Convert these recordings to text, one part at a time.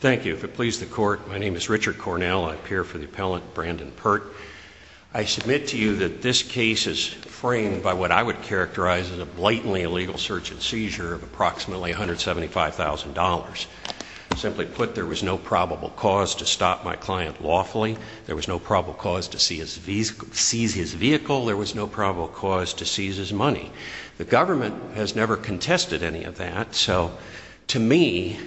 Thank you. If it pleases the Court, my name is Richard Cornell. I appear for the appellant Brandon Pert. I submit to you that this case is framed by what I would characterize as a blatantly illegal search and seizure of approximately $175,000. Simply put, there was no probable cause to stop my client lawfully. There was no probable cause to seize his vehicle. There was no probable cause to seize his money. The government has never contested any of that. So to me,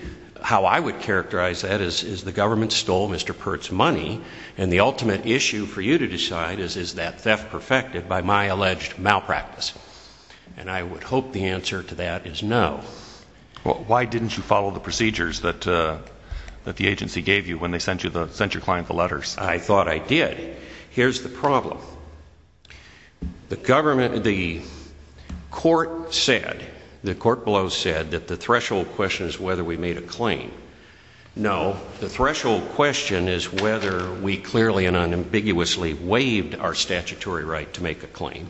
how I would characterize that is the government stole Mr. Pert's money, and the ultimate issue for you to decide is, is that theft perfected by my alleged malpractice? And I would hope the answer to that is no. Well, why didn't you follow the procedures that the agency gave you when they sent your client the letters? I thought I did. Here's the problem. The government, the court said, the court below said that the threshold question is whether we made a claim. No, the threshold question is whether we clearly and unambiguously waived our statutory right to make a claim.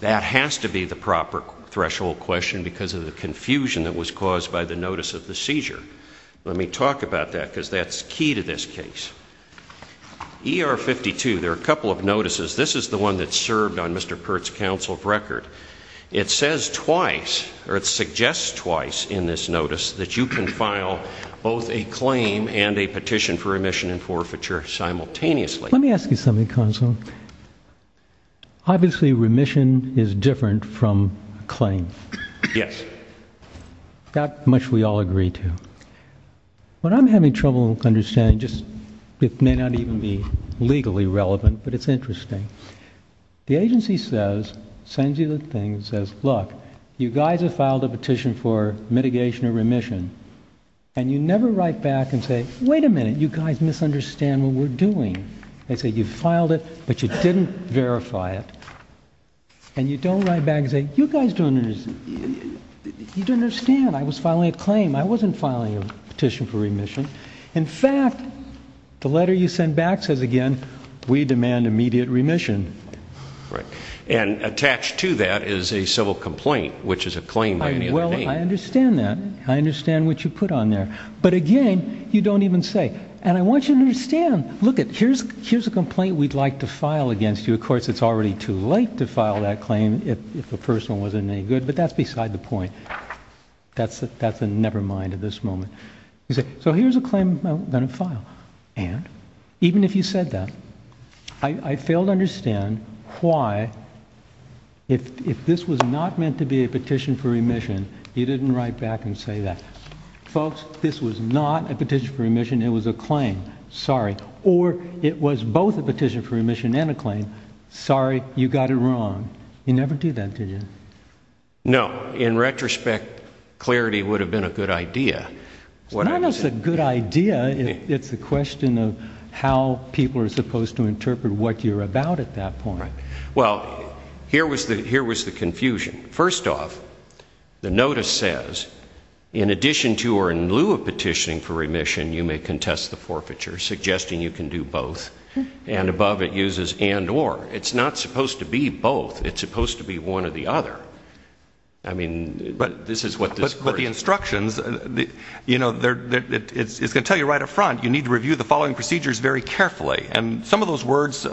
That has to be the proper threshold question because of the confusion that was caused by the notice of the seizure. Let me talk about that because that's key to this case. ER 52, there are a couple of notices. This is the one that served on Mr. Pert's counsel record. It says twice, or it suggests twice in this notice that you can file both a claim and a petition for remission and forfeiture simultaneously. Let me ask you something, counsel. Obviously, remission is different from claim. Yes. That much we all agree to. What I'm having trouble understanding, just, it may not even be legally relevant, but it's interesting. The agency says, sends you the thing, says, look, you guys have filed a petition for mitigation or remission and you never write back and say, wait a minute, you guys misunderstand what we're doing. They say you've filed it, but you didn't verify it and you don't write back and say, you guys don't understand. I was filing a claim. I wasn't filing a petition for remission. In fact, the letter you send back says again, we demand immediate remission. Right. And attached to that is a civil complaint, which is a claim. Well, I understand that. I understand what you put on there. But again, you don't even say, and I want you to understand, look, here's a complaint we'd like to file against you. Of course, it's already too late to file that claim if the person wasn't any good, but that's beside the point. That's a never mind at this moment. You say, so here's a claim I'm going to file. And even if you said that, I fail to understand why, if this was not meant to be a petition for remission, you didn't write back and say that. Folks, this was not a petition for remission. It was a claim. Sorry. Or it was both a petition for remission and a claim. Sorry, you got it wrong. You never do that, did you? No. In retrospect, clarity would have been a good idea. It's not a good idea. It's a question of how people are supposed to interpret what you're about at that point. Well, here was the confusion. First off, the notice says, in addition to or in lieu of petitioning for remission, you may contest the forfeiture, suggesting you can do both. And above it both. It's supposed to be one or the other. I mean, but this is what this. But the instructions, you know, it's going to tell you right up front, you need to review the following procedures very carefully. And some of those words,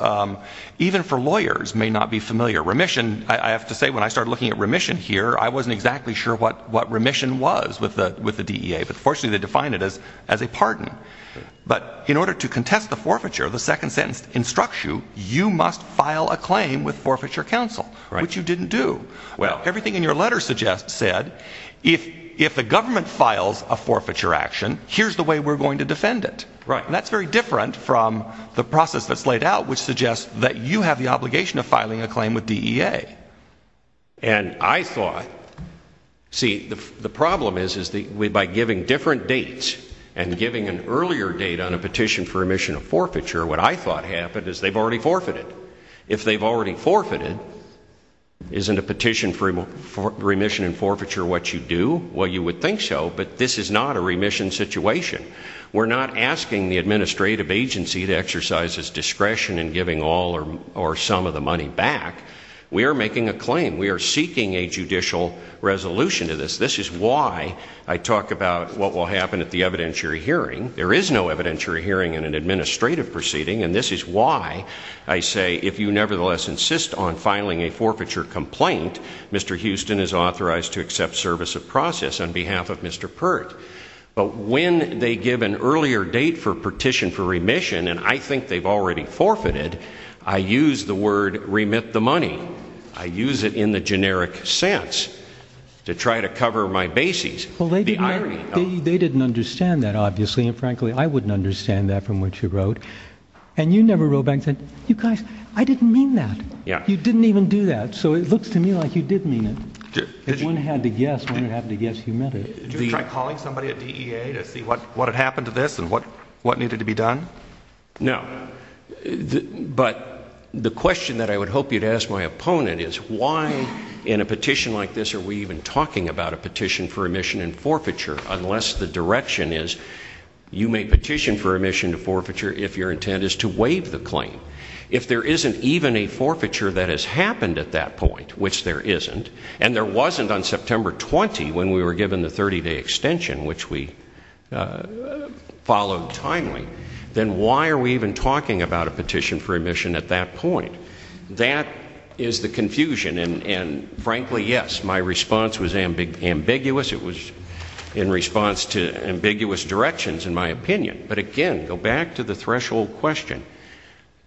even for lawyers, may not be familiar. Remission, I have to say, when I started looking at remission here, I wasn't exactly sure what what remission was with the with the DEA. But fortunately, they define it as as a pardon. But in order to contest the forfeiture, the second sentence instructs you, you must file a claim with Forfeiture Council. Right. Which you didn't do. Well, everything in your letter suggests said, if if the government files a forfeiture action, here's the way we're going to defend it. Right. And that's very different from the process that's laid out, which suggests that you have the obligation of filing a claim with DEA. And I thought, see, the the problem is, is that we by giving different dates and giving an earlier date on a petition for if they've already forfeited, isn't a petition for remission and forfeiture what you do? Well, you would think so. But this is not a remission situation. We're not asking the administrative agency to exercise his discretion in giving all or or some of the money back. We are making a claim. We are seeking a judicial resolution to this. This is why I talk about what will happen at the evidentiary hearing. There is no evidentiary hearing in an administrative proceeding. And this is why I say, if you nevertheless insist on filing a forfeiture complaint, Mr. Houston is authorized to accept service of process on behalf of Mr. Pert. But when they give an earlier date for petition for remission, and I think they've already forfeited, I use the word remit the money. I use it in the generic sense to try to cover my bases. Well, they they didn't understand that, obviously. And frankly, I wouldn't understand that from what you wrote. And you never wrote back and said, you guys, I didn't mean that. You didn't even do that. So it looks to me like you did mean it. If one had to guess, one would have to guess you met it. Did you try calling somebody at DEA to see what what had happened to this and what what needed to be done? No. But the question that I would hope you'd ask my opponent is why in a petition like this are we even talking about a petition for remission and forfeiture if your intent is to waive the claim? If there isn't even a forfeiture that has happened at that point, which there isn't, and there wasn't on September 20 when we were given the 30-day extension, which we followed timely, then why are we even talking about a petition for remission at that point? That is the confusion. And and frankly, yes, my response was ambiguous. It was in response to ambiguous directions, in my opinion. But again, go back to the threshold question.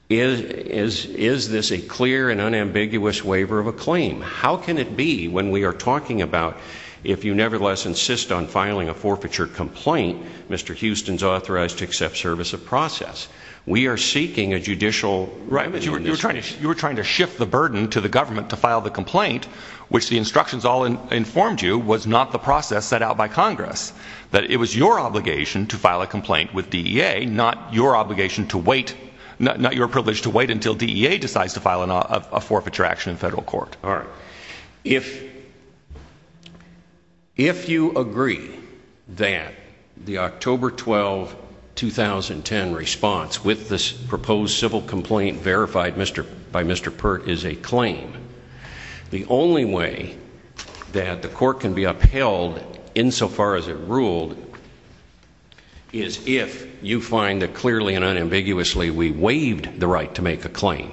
Is is is this a clear and unambiguous waiver of a claim? How can it be when we are talking about if you nevertheless insist on filing a forfeiture complaint, Mr. Houston's authorized to accept service of process. We are seeking a judicial. Right. But you were trying to you were trying to shift the burden to the government to file the complaint, which the instructions all informed you was not the process set out by Congress. That it was your obligation to file a complaint with DEA, not your obligation to wait not not your privilege to wait until DEA decides to file a forfeiture action in federal court. Alright. If if you agree that the October 12, 2010 response with this proposed civil complaint verified Mr. by so far as it ruled is if you find that clearly and unambiguously we waived the right to make a claim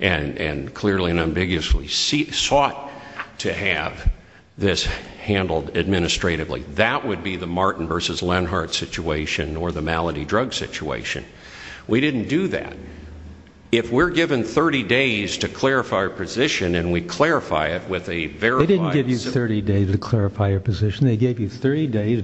and and clearly and ambiguously sought to have this handled administratively. That would be the Martin versus Lenhart situation or the malady drug situation. We didn't do that. If we're given 30 days to clarify our position and we clarify it with a verified. They didn't give you 30 days to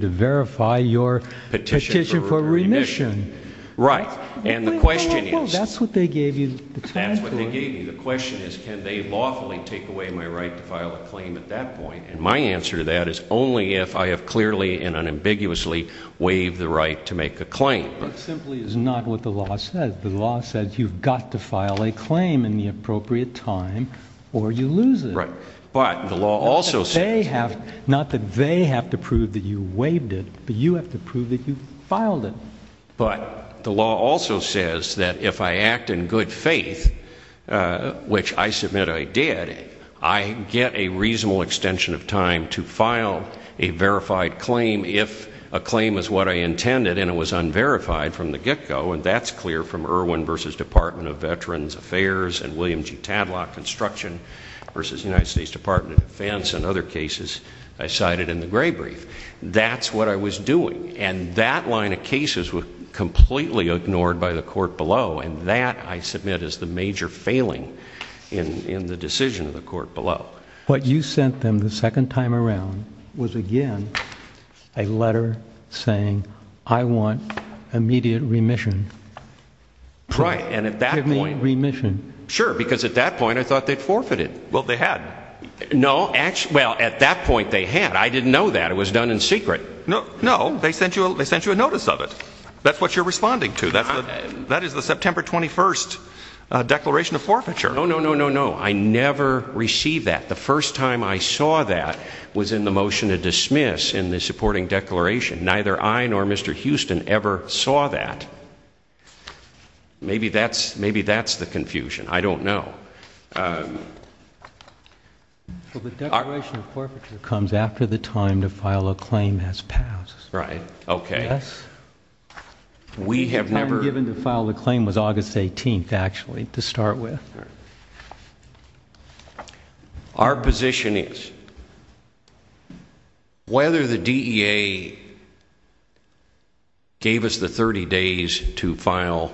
verify your petition for remission. Right. And the question is, that's what they gave you. That's what they gave you. The question is, can they lawfully take away my right to file a claim at that point? And my answer to that is only if I have clearly and unambiguously waived the right to make a claim. But simply is not what the law says. The law says you've got to file a claim in the appropriate time or you lose it. Right. But the law also say have not that they have to prove that you waived it, but you have to prove that you filed it. But the law also says that if I act in good faith, which I submit I did, I get a reasonable extension of time to file a verified claim if a claim is what I intended and it was unverified from the get go. And that's clear from Irwin versus Department of Veterans Affairs and William G. Tadlock construction versus United States Department of Defense and other cases I cited in the Gray brief. That's what I was doing. And that line of cases were completely ignored by the court below. And that I submit is the major failing in in the decision of the court below. What you sent them the second time around was again a letter saying I want immediate remission. Right. And at that point remission. Sure. Because at that point I thought they'd forfeited. Well, they had. No. Well, at that point they had. I didn't know that. It was done in secret. No. They sent you a notice of it. That's what you're responding to. That is the September 21st declaration of forfeiture. No, no, no, no, no. I never received that. The first time I saw that was in the motion to dismiss in the supporting declaration. Neither I nor Mr. Houston ever saw that. Maybe that's, maybe that's the confusion. I don't know. Well, the declaration of forfeiture comes after the time to file a claim has passed. Right. Okay. We have never. The time given to file the claim was August 18th actually to start with. Our position is whether the DEA gave us the 30 days to file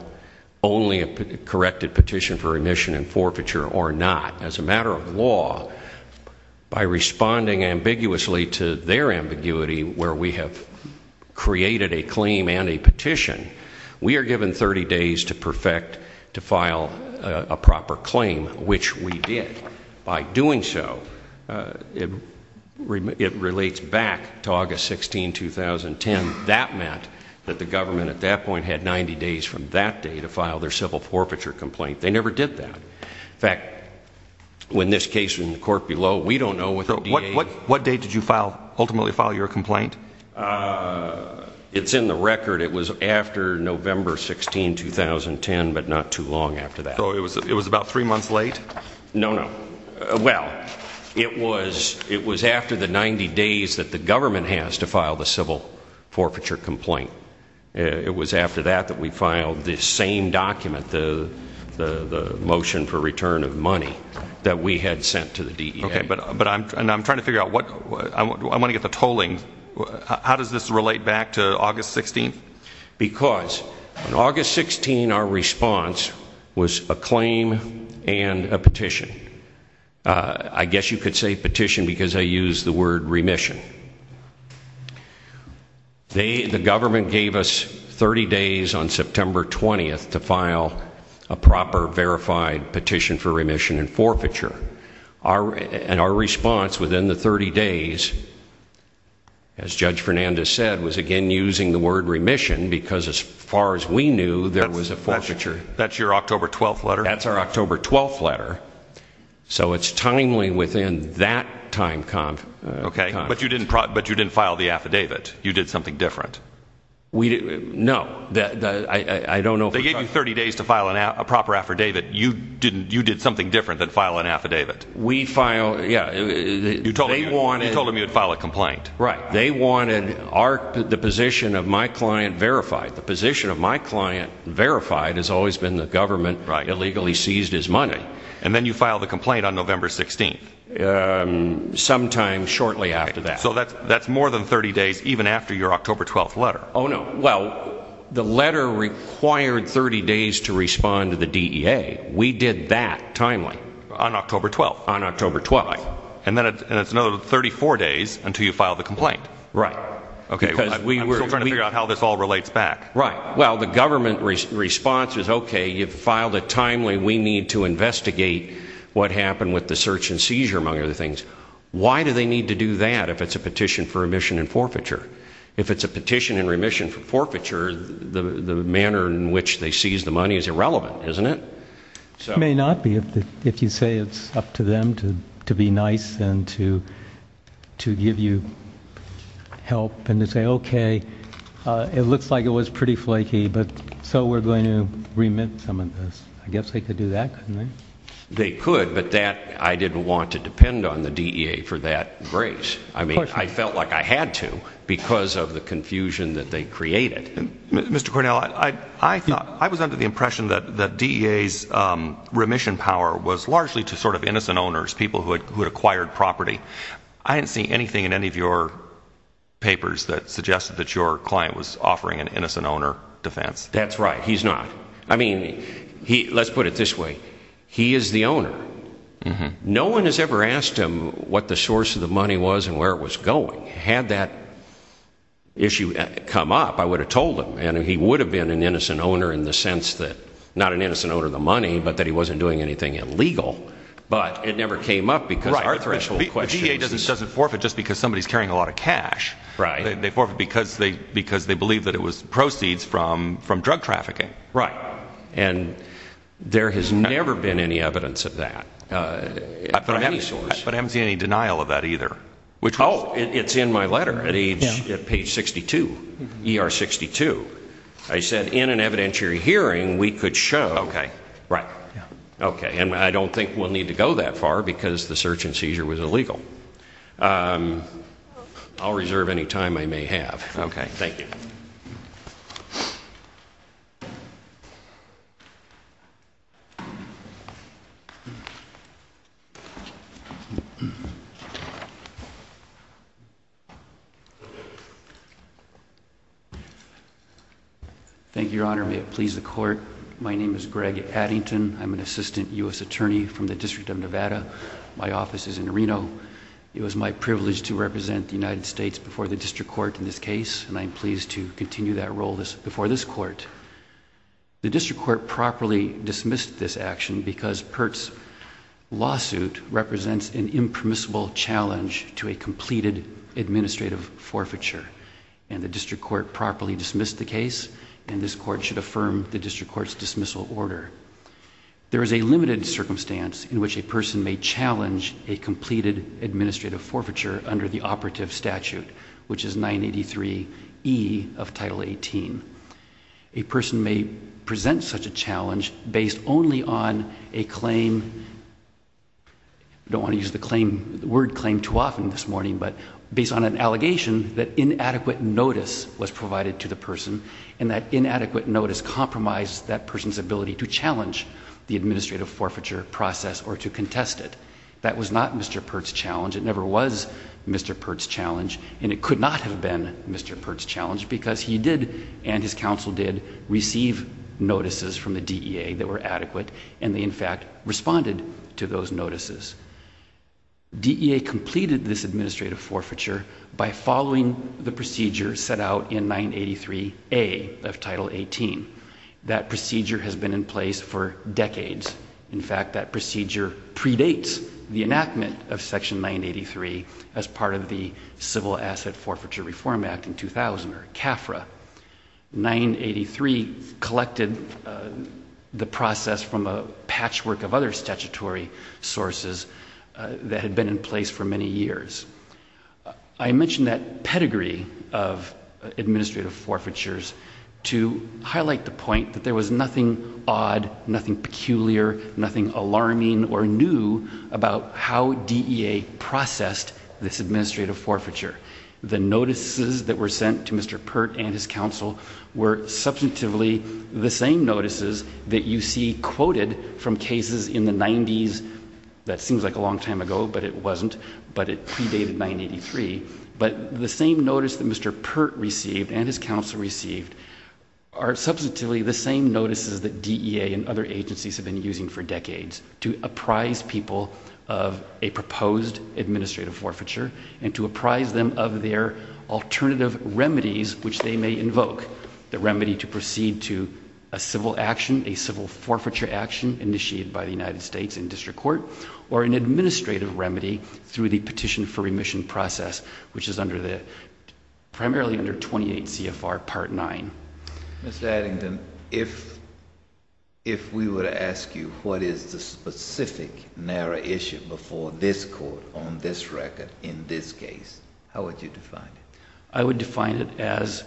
only a corrected petition for remission and forfeiture or not as a matter of law by responding ambiguously to their ambiguity where we have created a claim and a petition. We are given 30 days to perfect, to file a proper claim, which we did. By doing so, it relates back to August 16, 2010. That meant that the government at that point had 90 days from that day to file their civil forfeiture complaint. They never did that. In fact, when this case in the court below, we don't know what the DEA. What day did you file, ultimately file your complaint? It's in the record. It was after November 16, 2010, but not too long after that. So it was, it was about three months late? No, no. Well, it was, it was after the 90 days that the government has to file the civil forfeiture complaint. It was after that that we filed this same document, the, the motion for return of money that we had sent to the DEA. Okay, but, but I'm, and I'm trying to figure out what, I want to get the tolling, how does this relate back to August 16? Because on August 16, our response was a claim and a petition. I guess you could say petition because I use the word remission. They, the government gave us 30 days on September 20th to file a proper, verified petition for remission and forfeiture. Our, and our response within the 30 days, as Judge Fernandez said, was again using the word remission because as far as we knew, there was a forfeiture. That's your October 12th letter? That's our October 12th letter. So it's timely within that time. Okay, but you didn't, but you didn't file the affidavit. You did something different. We, no, that, I don't know. They didn't, you did something different than file an affidavit. We filed, yeah. You told them you'd file a complaint. Right. They wanted our, the position of my client verified. The position of my client verified has always been the government illegally seized his money. And then you filed a complaint on November 16th. Sometime shortly after that. So that's, that's more than 30 days even after your October 12th letter. Oh no. Well, the letter required 30 days to get that timely. On October 12th. On October 12th. And then, and it's another 34 days until you file the complaint. Right. Okay. I'm still trying to figure out how this all relates back. Right. Well, the government response is, okay, you've filed it timely, we need to investigate what happened with the search and seizure, among other things. Why do they need to do that if it's a petition for remission and forfeiture? If it's a petition and remission for forfeiture, the, the manner in which they seize the money is irrelevant, isn't it? May not be. If you say it's up to them to be nice and to, to give you help and to say, okay, it looks like it was pretty flaky, but so we're going to remit some of this. I guess they could do that. They could, but that I didn't want to depend on the D. A. For that grace. I mean, I felt like I had to because of the confusion that they created. Mr Cornell, I thought I was under the impression that the D. A. S. Um, remission power was largely to sort of innocent owners, people who had acquired property. I didn't see anything in any of your papers that suggested that your client was offering an innocent owner defense. That's right. He's not. I mean, let's put it this way. He is the owner. No one has ever asked him what the source of the money was and where it was going. Had that issue come up, I would have told him and he would have been an innocent owner in the sense that not an innocent owner of the money, but that he wasn't doing anything illegal. But it never came up because our threshold question doesn't forfeit just because somebody is carrying a lot of cash, right? They forfeit because they because they believe that it was proceeds from from drug trafficking. Right. And there has never been any evidence of that. Uh, but I haven't seen any denial of that either. Which Oh, it's in my letter at page 62 er 62. I said in an evidentiary hearing, we could show. Okay, right. Yeah. Okay. And I don't think we'll need to go that far because the search and seizure was illegal. Um, I'll reserve any time I may have. Okay. Thank you. Thank you, Your Honor. May it please the court. My name is Greg Addington. I'm an assistant U. S. Attorney from the District of Nevada. My office is in Reno. It was my privilege to represent the United States before the district court in this case, and I'm pleased to continue that role this before this court, the district court properly dismissed this action because Pertz lawsuit represents an impermissible challenge to a completed administrative forfeiture, and the district court properly dismissed the case, and this court should affirm the district court's dismissal order. There is a limited circumstance in which a person may challenge a completed administrative forfeiture under the operative statute, which is 9 83 e of Title 18. A person may present such a challenge based only on a claim. I don't want to use the claim word claim too often this morning, but based on an allegation that inadequate notice was provided to the person and that inadequate notice compromised that person's ability to challenge the administrative forfeiture process or to contest it. That was not Mr Pertz challenge. It never was Mr Pertz challenge, and it could not have been Mr Pertz challenge because he did and his counsel did receive notices from the D. A. That were adequate, and they in fact responded to those notices. D. A. Completed this administrative forfeiture by following the procedure set out in 9 83 a of Title 18. That procedure has been in place for decades. In fact, that procedure predates the enactment of Section 9 83 as part of the Civil Asset Forfeiture Reform Act in 2000 or CAFRA. 9 83 collected the process from a patchwork of other statutory sources that had been in place for many years. I mentioned that pedigree of administrative forfeitures to highlight the point that there was nothing odd, nothing peculiar, nothing The notices that were sent to Mr Pertz and his counsel were substantively the same notices that you see quoted from cases in the nineties. That seems like a long time ago, but it wasn't. But it predated 9 83. But the same notice that Mr Pertz received and his counsel received are substantively the same notices that D. A. And other agencies have been using for decades to apprise people of a proposed administrative forfeiture and to apprise them of their alternative remedies, which they may invoke the remedy to proceed to a civil action, a civil forfeiture action initiated by the United States in district court or an administrative remedy through the petition for remission process, which is under the primarily under 28 CFR Part nine. Mr narrow issue before this court on this record in this case, how would you define it? I would define it as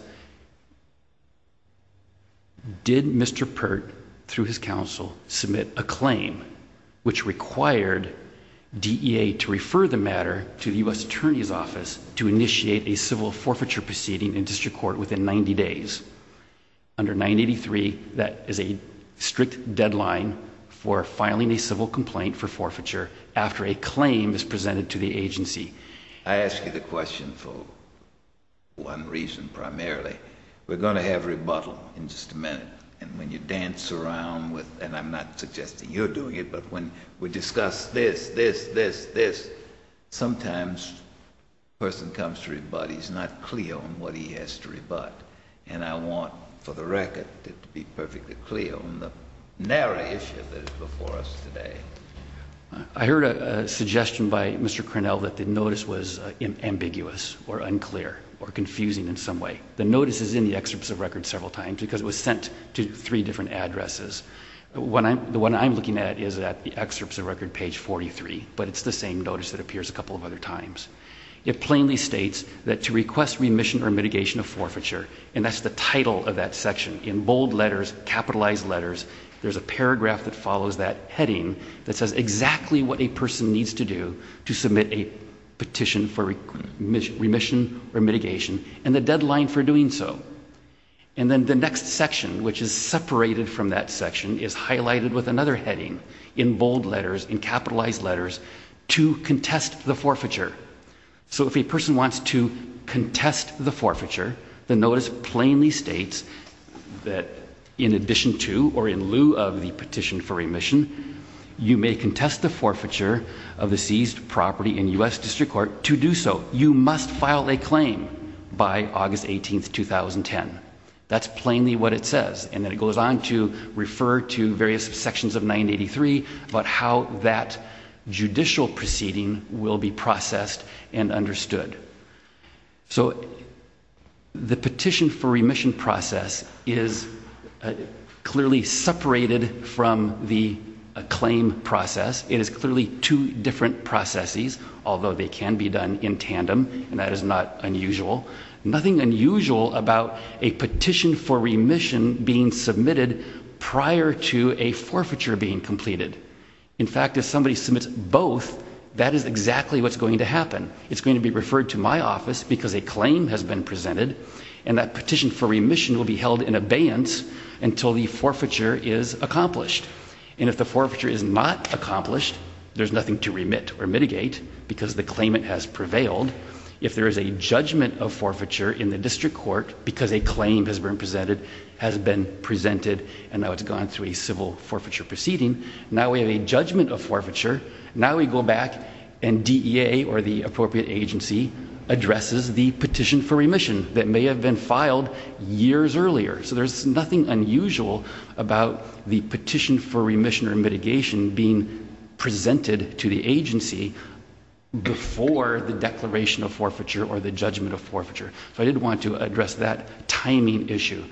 did Mr Pert through his counsel submit a claim which required D. A. To refer the matter to the U. S. Attorney's office to initiate a civil forfeiture proceeding in district court within 90 days under 9 83. That is a strict deadline for filing a civil complaint for forfeiture after a claim is presented to the agency. I ask you the question for one reason. Primarily we're gonna have rebuttal in just a minute. And when you dance around with and I'm not suggesting you're doing it. But when we discuss this, this, this, this sometimes person comes to rebut. He's not clear on what he has to rebut. And I want for the record to be perfectly clear on the narrow issue that is before us today. I heard a suggestion by Mr Cornell that the notice was ambiguous or unclear or confusing in some way. The notice is in the excerpts of record several times because it was sent to three different addresses. When I'm when I'm looking at is that the excerpts of record page 43, but it's the same notice that appears a couple of other times. It plainly states that to request remission or mitigation of forfeiture. And that's the title of that section in bold letters, capitalized letters. There's a paragraph that follows that heading that says exactly what a person needs to do to submit a petition for remission, remission or mitigation and the deadline for doing so. And then the next section, which is separated from that section, is highlighted with another heading in bold letters in capitalized letters to contest the forfeiture. The notice plainly states that in addition to or in lieu of the petition for remission, you may contest the forfeiture of the seized property in U.S. District Court to do so. You must file a claim by August 18th, 2010. That's plainly what it says. And then it goes on to refer to various sections of 983 about how that judicial proceeding will be processed and understood. So in the petition for remission process is clearly separated from the claim process. It is clearly two different processes, although they can be done in tandem, and that is not unusual. Nothing unusual about a petition for remission being submitted prior to a forfeiture being completed. In fact, if somebody submits both, that is exactly what's going to happen. It's going to be referred to my has been presented, and that petition for remission will be held in abeyance until the forfeiture is accomplished. And if the forfeiture is not accomplished, there's nothing to remit or mitigate because the claimant has prevailed. If there is a judgment of forfeiture in the district court because a claim has been presented, has been presented, and now it's gone through a civil forfeiture proceeding, now we have a judgment of forfeiture. Now we go back and DEA or the for remission that may have been filed years earlier. So there's nothing unusual about the petition for remission or mitigation being presented to the agency before the declaration of forfeiture or the judgment of forfeiture. So I did want to address that timing issue.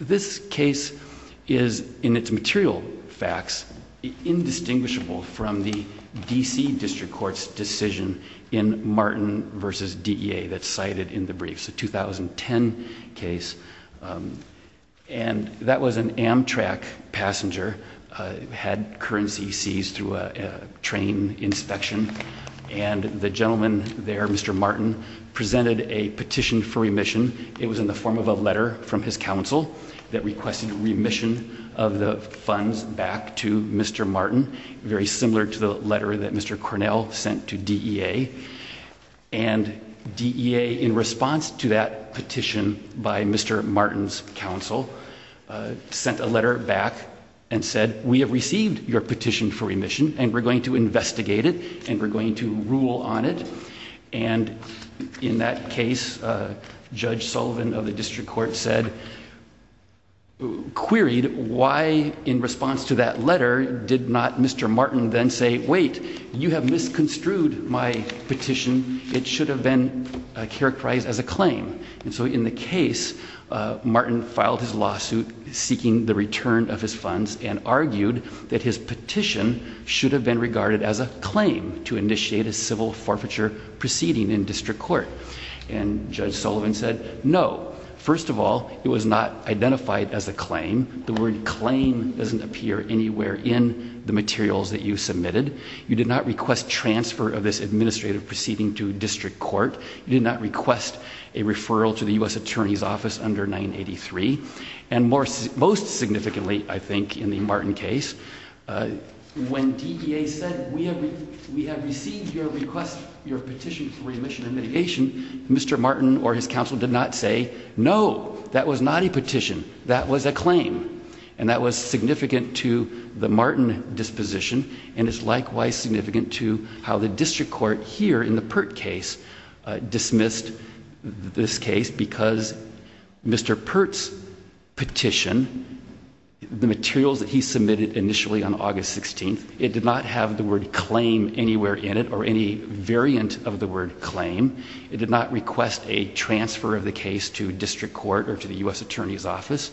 This case is, in its material facts, indistinguishable from the D.C. District Court's decision in Martin v. DEA that's cited in the briefs, a 2010 case, and that was an Amtrak passenger, had currency seized through a train inspection, and the gentleman there, Mr. Martin, presented a petition for remission. It was in the form of a letter from his counsel that requested remission of the funds back to Mr. Martin, very similar to the letter that Mr. Cornell sent to DEA. And DEA, in response to that petition by Mr. Martin's counsel, sent a letter back and said, we have received your petition for remission and we're going to investigate it and we're going to rule on it. And in that case, Judge Sullivan of the District Court said, queried why, in response to that letter, did not Mr. Martin then say, wait, you have misconstrued my petition. It should have been characterized as a claim. And so in the case, Martin filed his lawsuit seeking the return of his funds and argued that his petition should have been regarded as a claim to initiate a civil forfeiture proceeding in District Court. And Judge Sullivan said, no. First of all, it was not identified as a claim. The word claim doesn't appear anywhere in the materials that you submitted. You did not request transfer of this administrative proceeding to District Court. You did not request a referral to the U.S. Attorney's Office under 983. And more, most significantly, I think, in the Martin case, when DEA said, we have received your request, your petition for remission and mitigation, Mr. Martin or his counsel did not say, no, that was not a petition. That was a claim. And that was significant to the Martin disposition and is likewise significant to how the District Court here in the Pert case dismissed this case because Mr. Pert's petition, the materials that he submitted initially on August 16th, it did not have the word claim anywhere in it or any variant of the word claim. It did not request a transfer of the case to the U.S. Attorney's Office.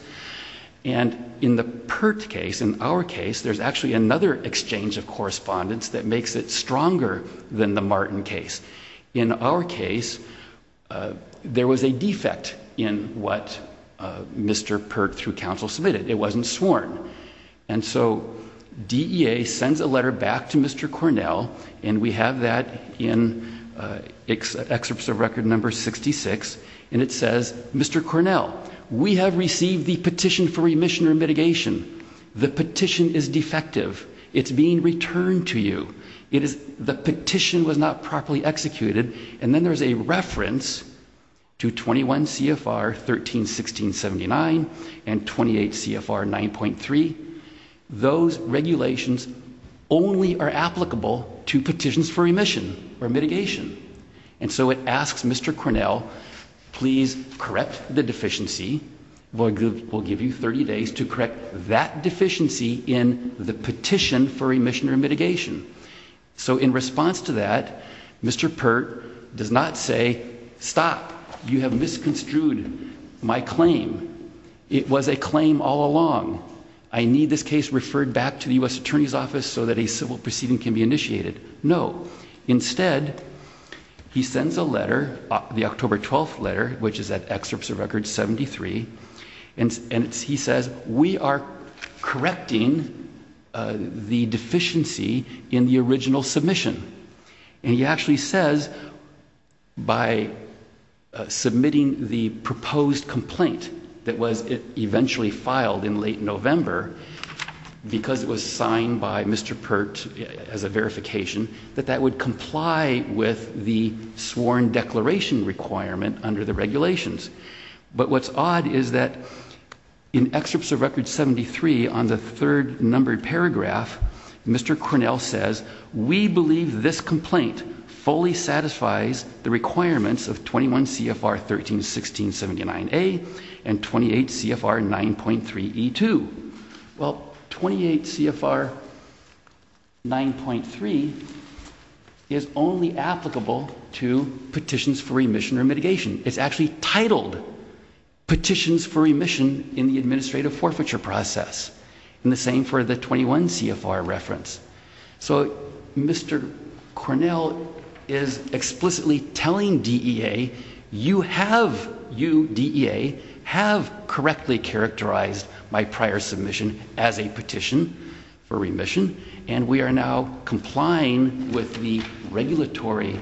And in the Pert case, in our case, there's actually another exchange of correspondence that makes it stronger than the Martin case. In our case, there was a defect in what Mr. Pert, through counsel, submitted. It wasn't sworn. And so DEA sends a letter back to Mr. Cornell, and we have that in Excerpts of Record Number 66, and it says, Mr. Cornell, we have received the petition for remission or mitigation. The petition is defective. It's being returned to you. The petition was not properly executed. And then there's a reference to 21 CFR 131679 and 28 CFR 9.3. Those regulations only are And so it asks Mr. Cornell, please correct the deficiency. We'll give you 30 days to correct that deficiency in the petition for remission or mitigation. So in response to that, Mr. Pert does not say, stop, you have misconstrued my claim. It was a claim all along. I need this case referred back to the U.S. Attorney's Office so that a civil proceeding can be initiated. No. Instead, he sends a letter, the October 12th letter, which is at Excerpts of Record 73, and he says, we are correcting the deficiency in the original submission. And he actually says, by submitting the proposed complaint that was eventually filed in late November, because it was signed by Mr. Pert as a verification, that that would comply with the sworn declaration requirement under the regulations. But what's odd is that in Excerpts of Record 73, on the third numbered paragraph, Mr. Cornell says, we believe this Well, 28 CFR 9.3 is only applicable to petitions for remission or mitigation. It's actually titled Petitions for Remission in the Administrative Forfeiture Process. And the same for the 21 CFR reference. So Mr. Cornell is explicitly telling DEA, you have, you, DEA, have correctly characterized my prior submission as a petition for remission. And we are now complying with the regulatory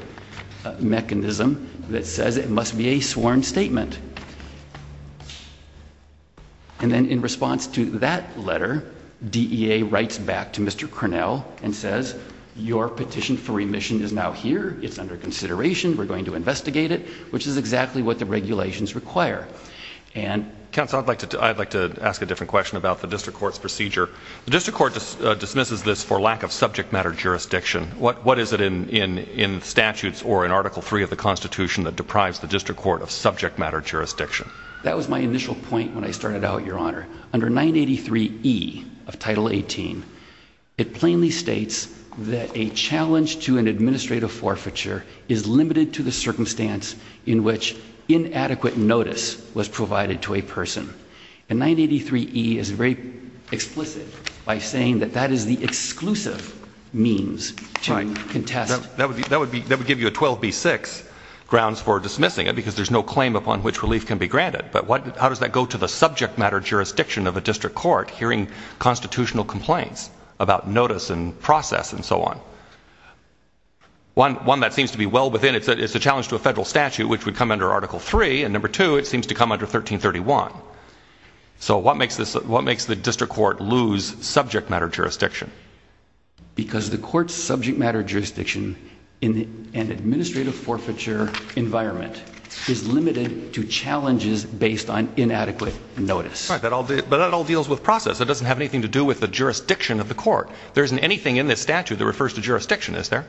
mechanism that says it must be a sworn statement. And then in response to that letter, DEA writes back to Mr. Cornell and says, your petition for remission is now here. It's under consideration. We're going to investigate it, which is exactly what the I'd like to ask a different question about the District Court's procedure. The District Court dismisses this for lack of subject matter jurisdiction. What what is it in in in statutes or in Article 3 of the Constitution that deprives the District Court of subject matter jurisdiction? That was my initial point when I started out, Your Honor. Under 983 E of Title 18, it plainly states that a challenge to an administrative forfeiture is limited to the circumstance in which inadequate notice was provided to a person. And 983 E is very explicit by saying that that is the exclusive means to contest. That would be that would be that would give you a 12B6 grounds for dismissing it because there's no claim upon which relief can be granted. But what how does that go to the subject matter jurisdiction of a district court hearing constitutional complaints about notice and process and so on? One one that statute, which would come under Article 3 and number two, it seems to come under 1331. So what makes this what makes the District Court lose subject matter jurisdiction? Because the court's subject matter jurisdiction in an administrative forfeiture environment is limited to challenges based on inadequate notice. But that all deals with process. It doesn't have anything to do with the jurisdiction of the court. There isn't anything in this statute that refers to jurisdiction, is there?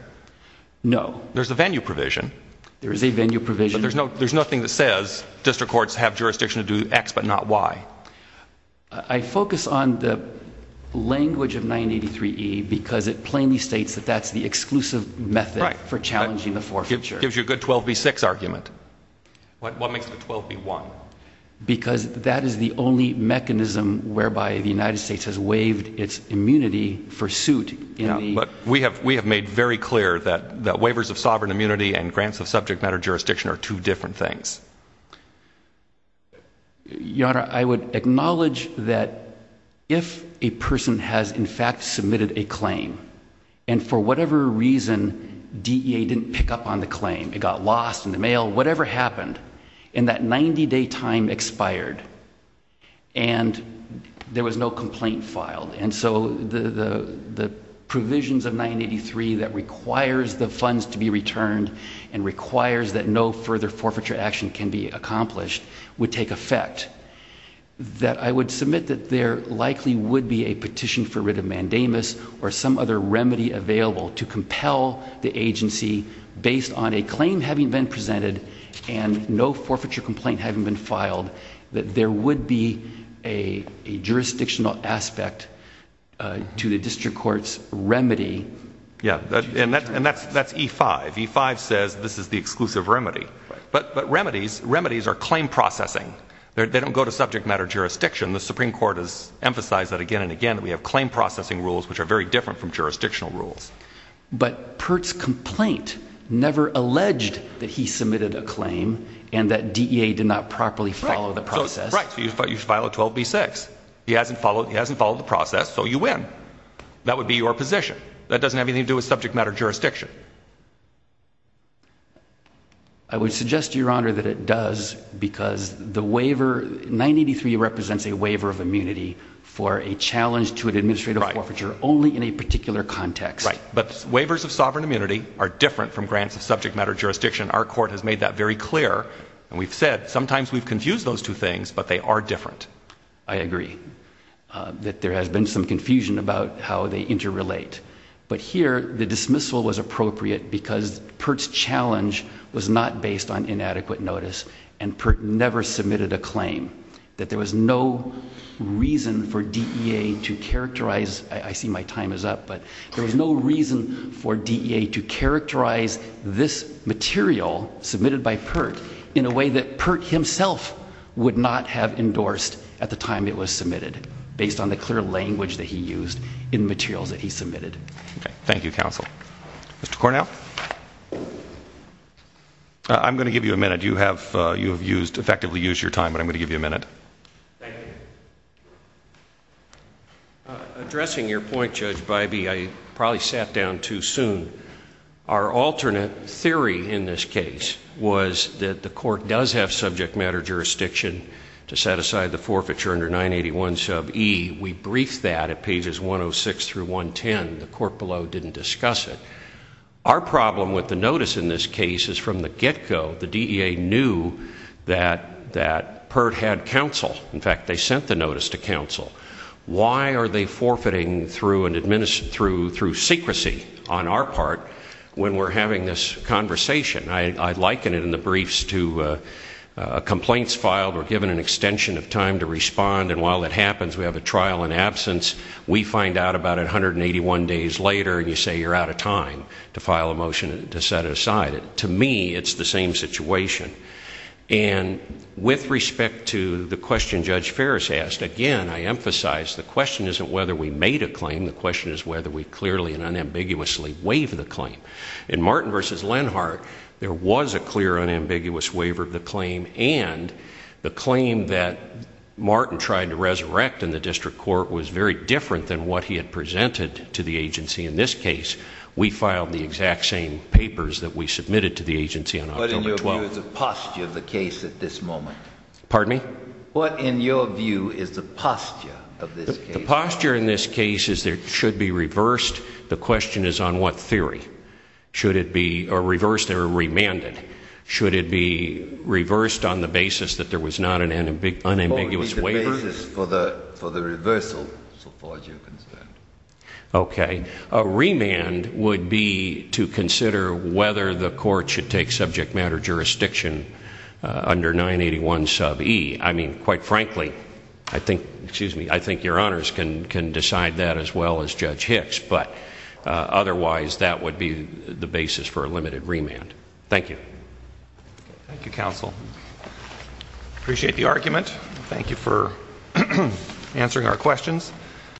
No. There's a venue provision. There is a provision. There's no there's nothing that says district courts have jurisdiction to do X but not Y. I focus on the language of 983 E because it plainly states that that's the exclusive method for challenging the forfeiture. Gives you a good 12B6 argument. What makes the 12B1? Because that is the only mechanism whereby the United States has waived its immunity for suit. But we have we have made very clear that that waivers of sovereign immunity and grants of subject matter jurisdiction are two different things. Your Honor, I would acknowledge that if a person has in fact submitted a claim and for whatever reason DEA didn't pick up on the claim, it got lost in the mail, whatever happened, and that 90-day time expired and there was no complaint filed. And so the provisions of 983 that requires the funds to be returned and requires that no further forfeiture action can be accomplished would take effect. That I would submit that there likely would be a petition for writ of mandamus or some other remedy available to compel the agency based on a claim having been presented and no forfeiture complaint having been filed that there would be a jurisdictional aspect to the district court's remedy. Yeah, and that's E5. E5 says this is the exclusive remedy. But remedies, remedies are claim processing. They don't go to subject matter jurisdiction. The Supreme Court has emphasized that again and again that we have claim processing rules which are very different from jurisdictional rules. But Pert's complaint never alleged that he submitted a claim and that DEA did not properly follow the process. Right, but you file a 12B6. He hasn't followed the process, so you win. That would be your position. That doesn't have anything to do with subject matter jurisdiction. I would suggest, Your Honor, that it does because the waiver, 983 represents a waiver of immunity for a challenge to an administrative forfeiture only in a particular context. Right, but waivers of sovereign immunity are different from grants of subject matter jurisdiction. Our court has made that very clear. And we've said sometimes we've confused those two things, but they are different. I agree that there has been some confusion about how they interrelate. But here the dismissal was appropriate because Pert's challenge was not based on inadequate notice and Pert never submitted a claim. That there was no reason for DEA to characterize, I see my time is up, but there was no reason for DEA to characterize this material submitted by Pert in a way that Pert himself would not have endorsed at the time it was submitted based on the clear language that he used in the materials that he submitted. Okay, thank you, counsel. Mr. Cornell? I'm going to give you a minute. You have used, effectively used your time, but I'm going to give you a minute. Thank you. Addressing your point, Judge Bybee, I probably sat down too soon. Our alternate theory in this case was that the court does have subject matter jurisdiction to set aside the forfeiture under 981 sub E. We briefed that at pages 106 through 110. The court below didn't discuss it. Our problem with the notice in this case is from the get-go, the DEA knew that Pert had counsel. In fact, they sent the notice to counsel. Why are they forfeiting through secrecy on our part when we're having this conversation? I liken it in the briefs to complaints filed, we're given an extension of time to respond, and while that happens, we have a trial in absence, we find out about it 181 days later, and you say you're out of time to file a motion to set it aside. To me, it's the same situation. With respect to the question Judge Ferris asked, again, I emphasize the question isn't whether we made a claim, the question is whether we clearly and unambiguously waived the claim. In Martin v. Lenhardt, there was a clear unambiguous waiver of the claim, and the claim that Martin tried to resurrect in the district court was very different than what he had presented to the agency in this case. We filed the exact same papers that we submitted to the agency on October 12th. What, in your view, is the posture of the case at this moment? Pardon me? What, in your view, is the posture of this case? The posture in this case is it should be reversed. The question is on what theory? Should it be reversed or remanded? Should it be reversed on the basis that there was not an unambiguous waiver? Or would it be the basis for the reversal, so far as you're concerned? Okay. A remand would be to consider whether the court should take subject matter jurisdiction under 981 sub e. I mean, quite frankly, I think, excuse me, I think your honors can decide that as well as Judge Hicks, but otherwise that would be the basis for a limited remand. Thank you. Thank you, counsel. Appreciate the argument. Thank you for answering our questions.